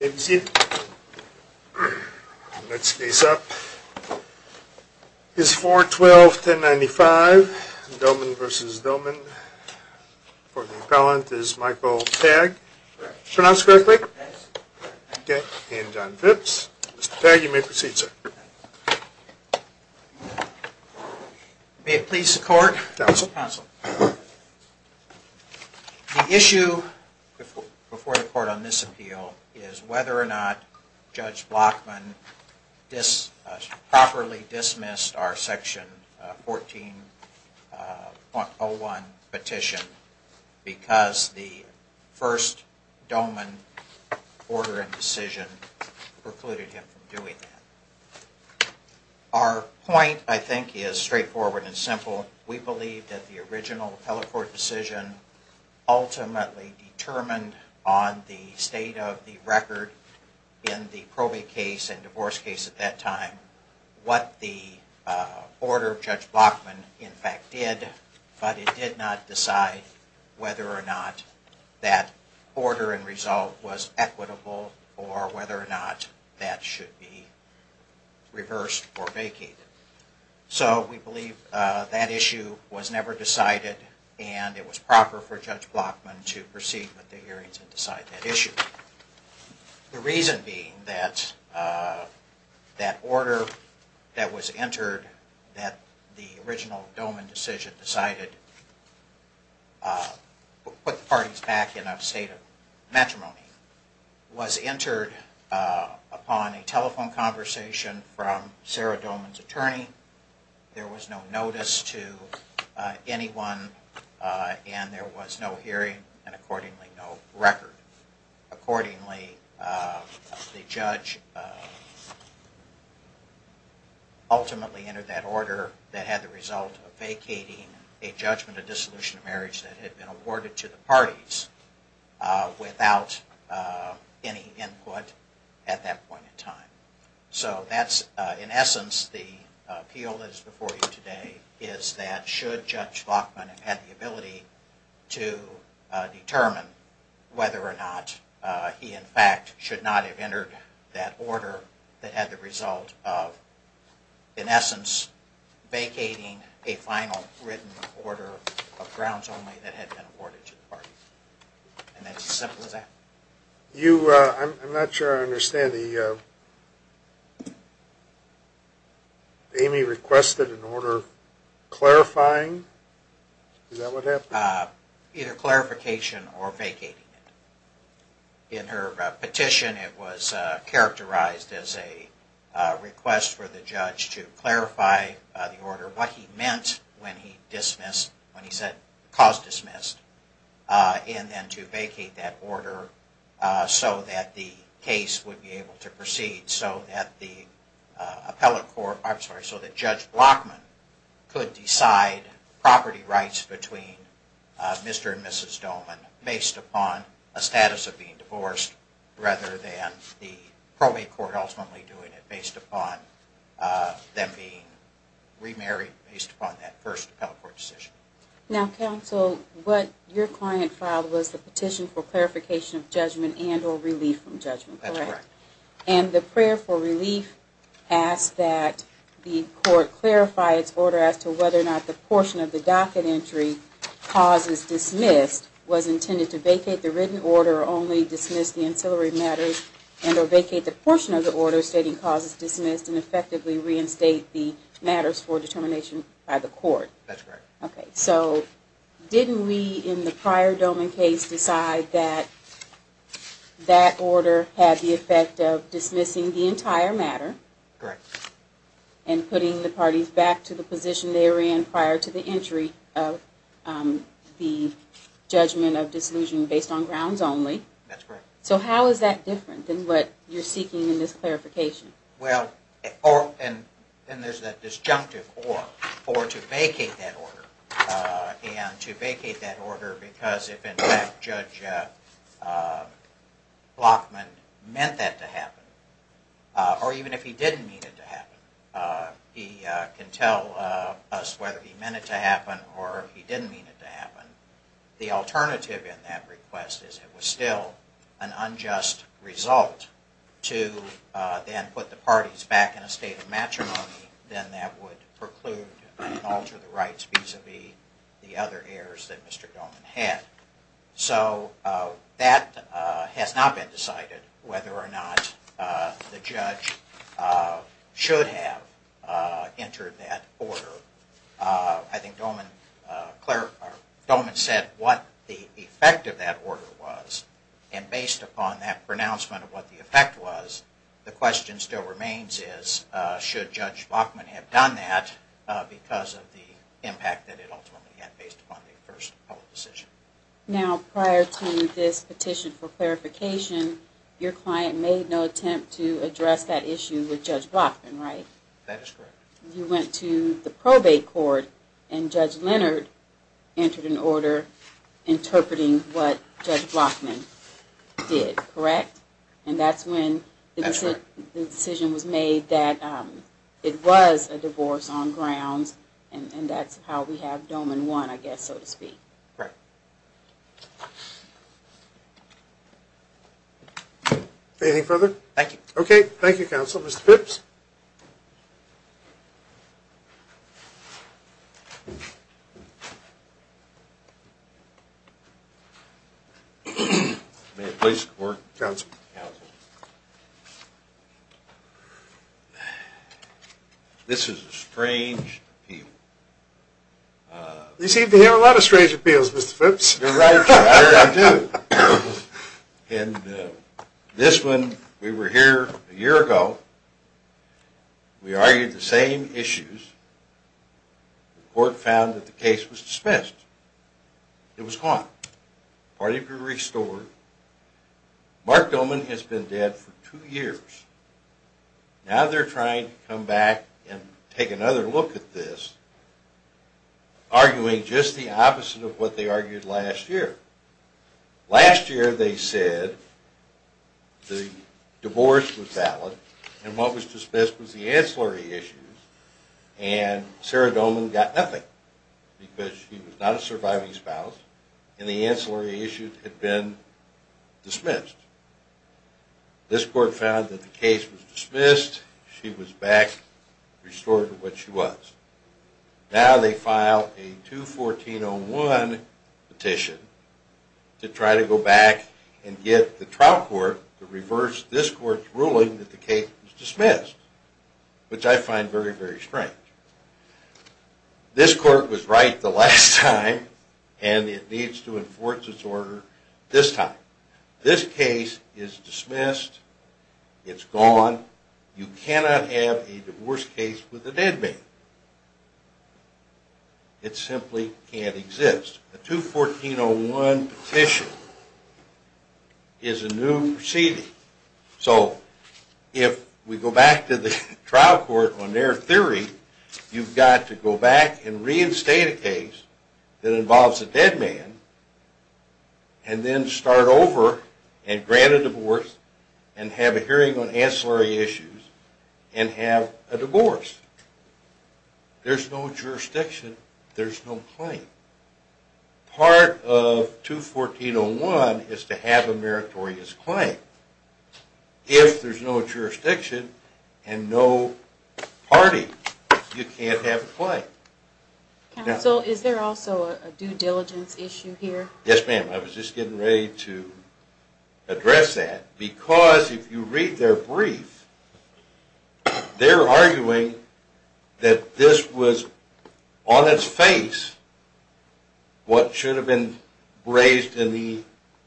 Let's face up, it's 4-12-10-95, Doman versus Doman. Courtly appellant is Michael Tagg, pronounced correctly, and John Phipps. Mr. Tagg, you may proceed, sir. May it please the court? Counsel. The issue before the court on this appeal is whether or not Judge Blockman properly dismissed our section 14.01 petition because the first Doman order and decision precluded him from doing that. Our point, I think, is straightforward and simple. We believe that the original appellate court decision ultimately determined on the state of the record in the probate case and divorce case at that time what the order of Judge Blockman in fact did, but it did not decide whether or not that order and result was equitable or whether or not that should be reversed or vacated. So we believe that issue was never decided and it was proper for Judge Blockman to proceed with the hearings and decide that issue. The reason being that that order that was entered that the original Doman decision decided to put the parties back in a state of matrimony was entered upon a telephone conversation from Sarah Doman's attorney. There was no notice to anyone and there was no hearing and accordingly no record. Accordingly, the judge ultimately entered that order that had the result of vacating a judgment of dissolution of marriage that had been awarded to the parties without any input at that point in time. So that's in essence the appeal that is before you today is that should Judge Blockman have had the ability to determine whether or not he in fact should not have entered that order that had the result of in essence vacating a final written order of grounds only that had been awarded to the parties. And that's as simple as that. I'm not sure I understand. Amy requested an order clarifying? Is that what happened? Either clarification or vacating it. In her petition it was characterized as a request for the judge to clarify the order, what he meant when he said cause dismissed and then to vacate that order so that the case would be able to proceed so that Judge Blockman could decide property rights between Mr. and Mrs. Doman based upon a status of being divorced rather than the probate court ultimately doing it based upon them being remarried based upon that first appellate court decision. Now counsel, what your client filed was the petition for clarification of judgment and or relief from judgment, correct? That's correct. And the prayer for relief asked that the court clarify its order as to whether or not the portion of the docket entry, cause is dismissed, was intended to vacate the written order or only dismiss the ancillary matters and or vacate the portion of the order stating cause is dismissed and effectively reinstate the matters for determination by the court. That's correct. Okay, so didn't we in the prior Doman case decide that that order had the effect of dismissing the entire matter? Correct. And putting the parties back to the position they were in prior to the entry of the judgment on grounds only. That's correct. So how is that different than what you're seeking in this clarification? Well, and there's that disjunctive or, or to vacate that order and to vacate that order because if in fact Judge Blockman meant that to happen or even if he didn't mean it to in that request is it was still an unjust result to then put the parties back in a state of matrimony then that would preclude and alter the rights vis-a-vis the other heirs that Mr. Doman had. So that has not been decided whether or not the judge should have entered that order. I think Doman said what the effect of that order was and based upon that pronouncement of what the effect was the question still remains is should Judge Blockman have done that because of the impact that it ultimately had based upon the first public decision. Now prior to this petition for clarification your client made no attempt to address that issue with Judge Blockman, right? That is correct. You went to the probate court and Judge Leonard entered an order interpreting what Judge Blockman did, correct? And that's when the decision was made that it was a divorce on grounds and that's how we have Doman won I guess so to speak. Correct. Anything further? Thank you. Okay, thank you counsel. Mr. Phipps? May it please the court? Counsel. Counsel. This is a strange appeal. You seem to have a lot of strange appeals Mr. Phipps. You're right. I do. And this one we were here a year ago. We argued the same issues. The court found that the case was dismissed. It was gone. Part of it restored. Mark Doman has been dead for two years. Now they're trying to come back and take another look at this arguing just the opposite of what they argued last year. Last year they said the divorce was valid and what was dismissed was the ancillary issues and Sarah Doman got nothing because she was not a surviving spouse and the ancillary issues had been dismissed. This court found that the case was dismissed. She was back restored to what she was. Now they file a 214-01 petition to try to go back and get the trial court to reverse this court's ruling that the case was dismissed, which I find very, very strange. This court was right the last time and it needs to enforce its order this time. This case is dismissed. It's gone. You cannot have a divorce case with a dead man. It simply can't exist. A 214-01 petition is a new proceeding. So if we go back to the trial court on their theory, you've got to go back and reinstate a case that involves a dead man and then start over and grant a divorce and have a hearing on ancillary issues and have a divorce. There's no jurisdiction. There's no claim. Part of 214-01 is to have a meritorious claim. If there's no jurisdiction and no party, you can't have a claim. Counsel, is there also a due diligence issue here? Yes, ma'am. I was just getting ready to address that because if you read their brief, they're arguing that this was on its face what should have been raised in the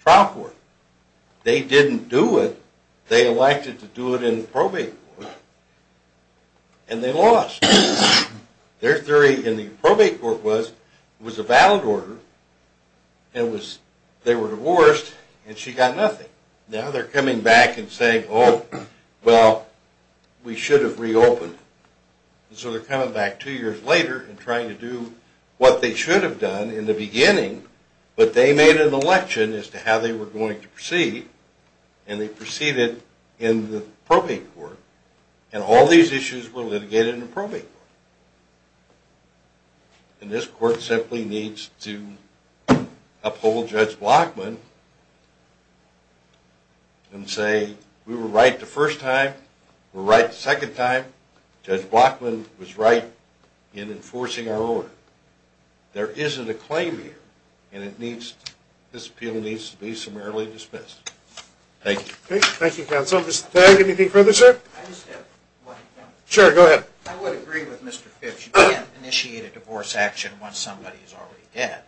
trial court. They didn't do it. They elected to do it in the probate court and they lost. Their theory in the probate court was it was a valid order and they were divorced and she got nothing. Now they're coming back and saying, oh, well, we should have reopened. So they're coming back two years later and trying to do what they should have done in the beginning, but they made an election as to how they were going to proceed and they proceeded in the probate court. And all these issues were litigated in the probate court. And this court simply needs to uphold Judge Blockman and say we were right the first time, we're right the second time, Judge Blockman was right in enforcing our order. There isn't a claim here and this appeal needs to be summarily dismissed. Thank you. Thank you, counsel. Mr. Tagg, anything further, sir? I just have one comment. Sure, go ahead. I would agree with Mr. Fitch. You can't initiate a divorce action once somebody is already dead.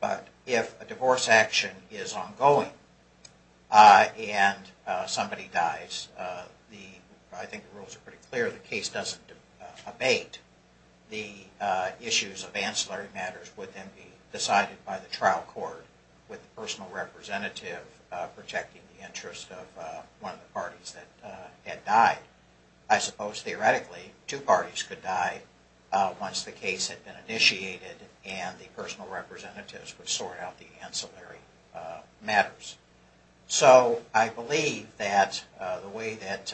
But if a divorce action is ongoing and somebody dies, I think the rules are pretty clear, the case doesn't abate, the issues of ancillary matters would then be decided by the trial court with the personal representative protecting the interest of one of the parties that had died. I suppose theoretically two parties could die once the case had been initiated and the personal representatives would sort out the ancillary matters. So I believe that the way that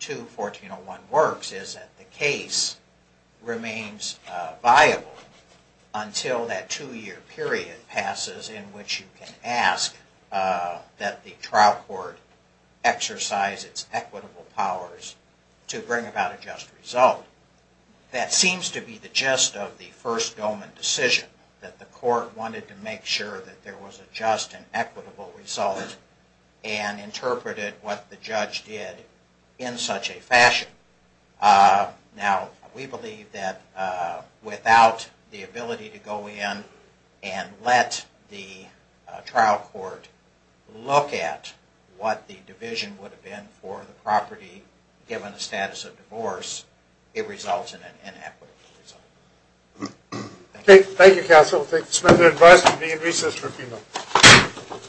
2-1401 works is that the case remains viable until that two-year period passes in which you can ask that the trial court exercise its equitable powers to bring about a just result. That seems to be the gist of the first domain decision, that the court wanted to make sure that there was a just and equitable result and interpreted what the judge did in such a fashion. Now, we believe that without the ability to go in and let the trial court look at what the division would have been for the property given the status of divorce, it results in an inequitable result. Thank you, counsel. Thank you, Mr. Smith. I advise you to be in recess for a few minutes.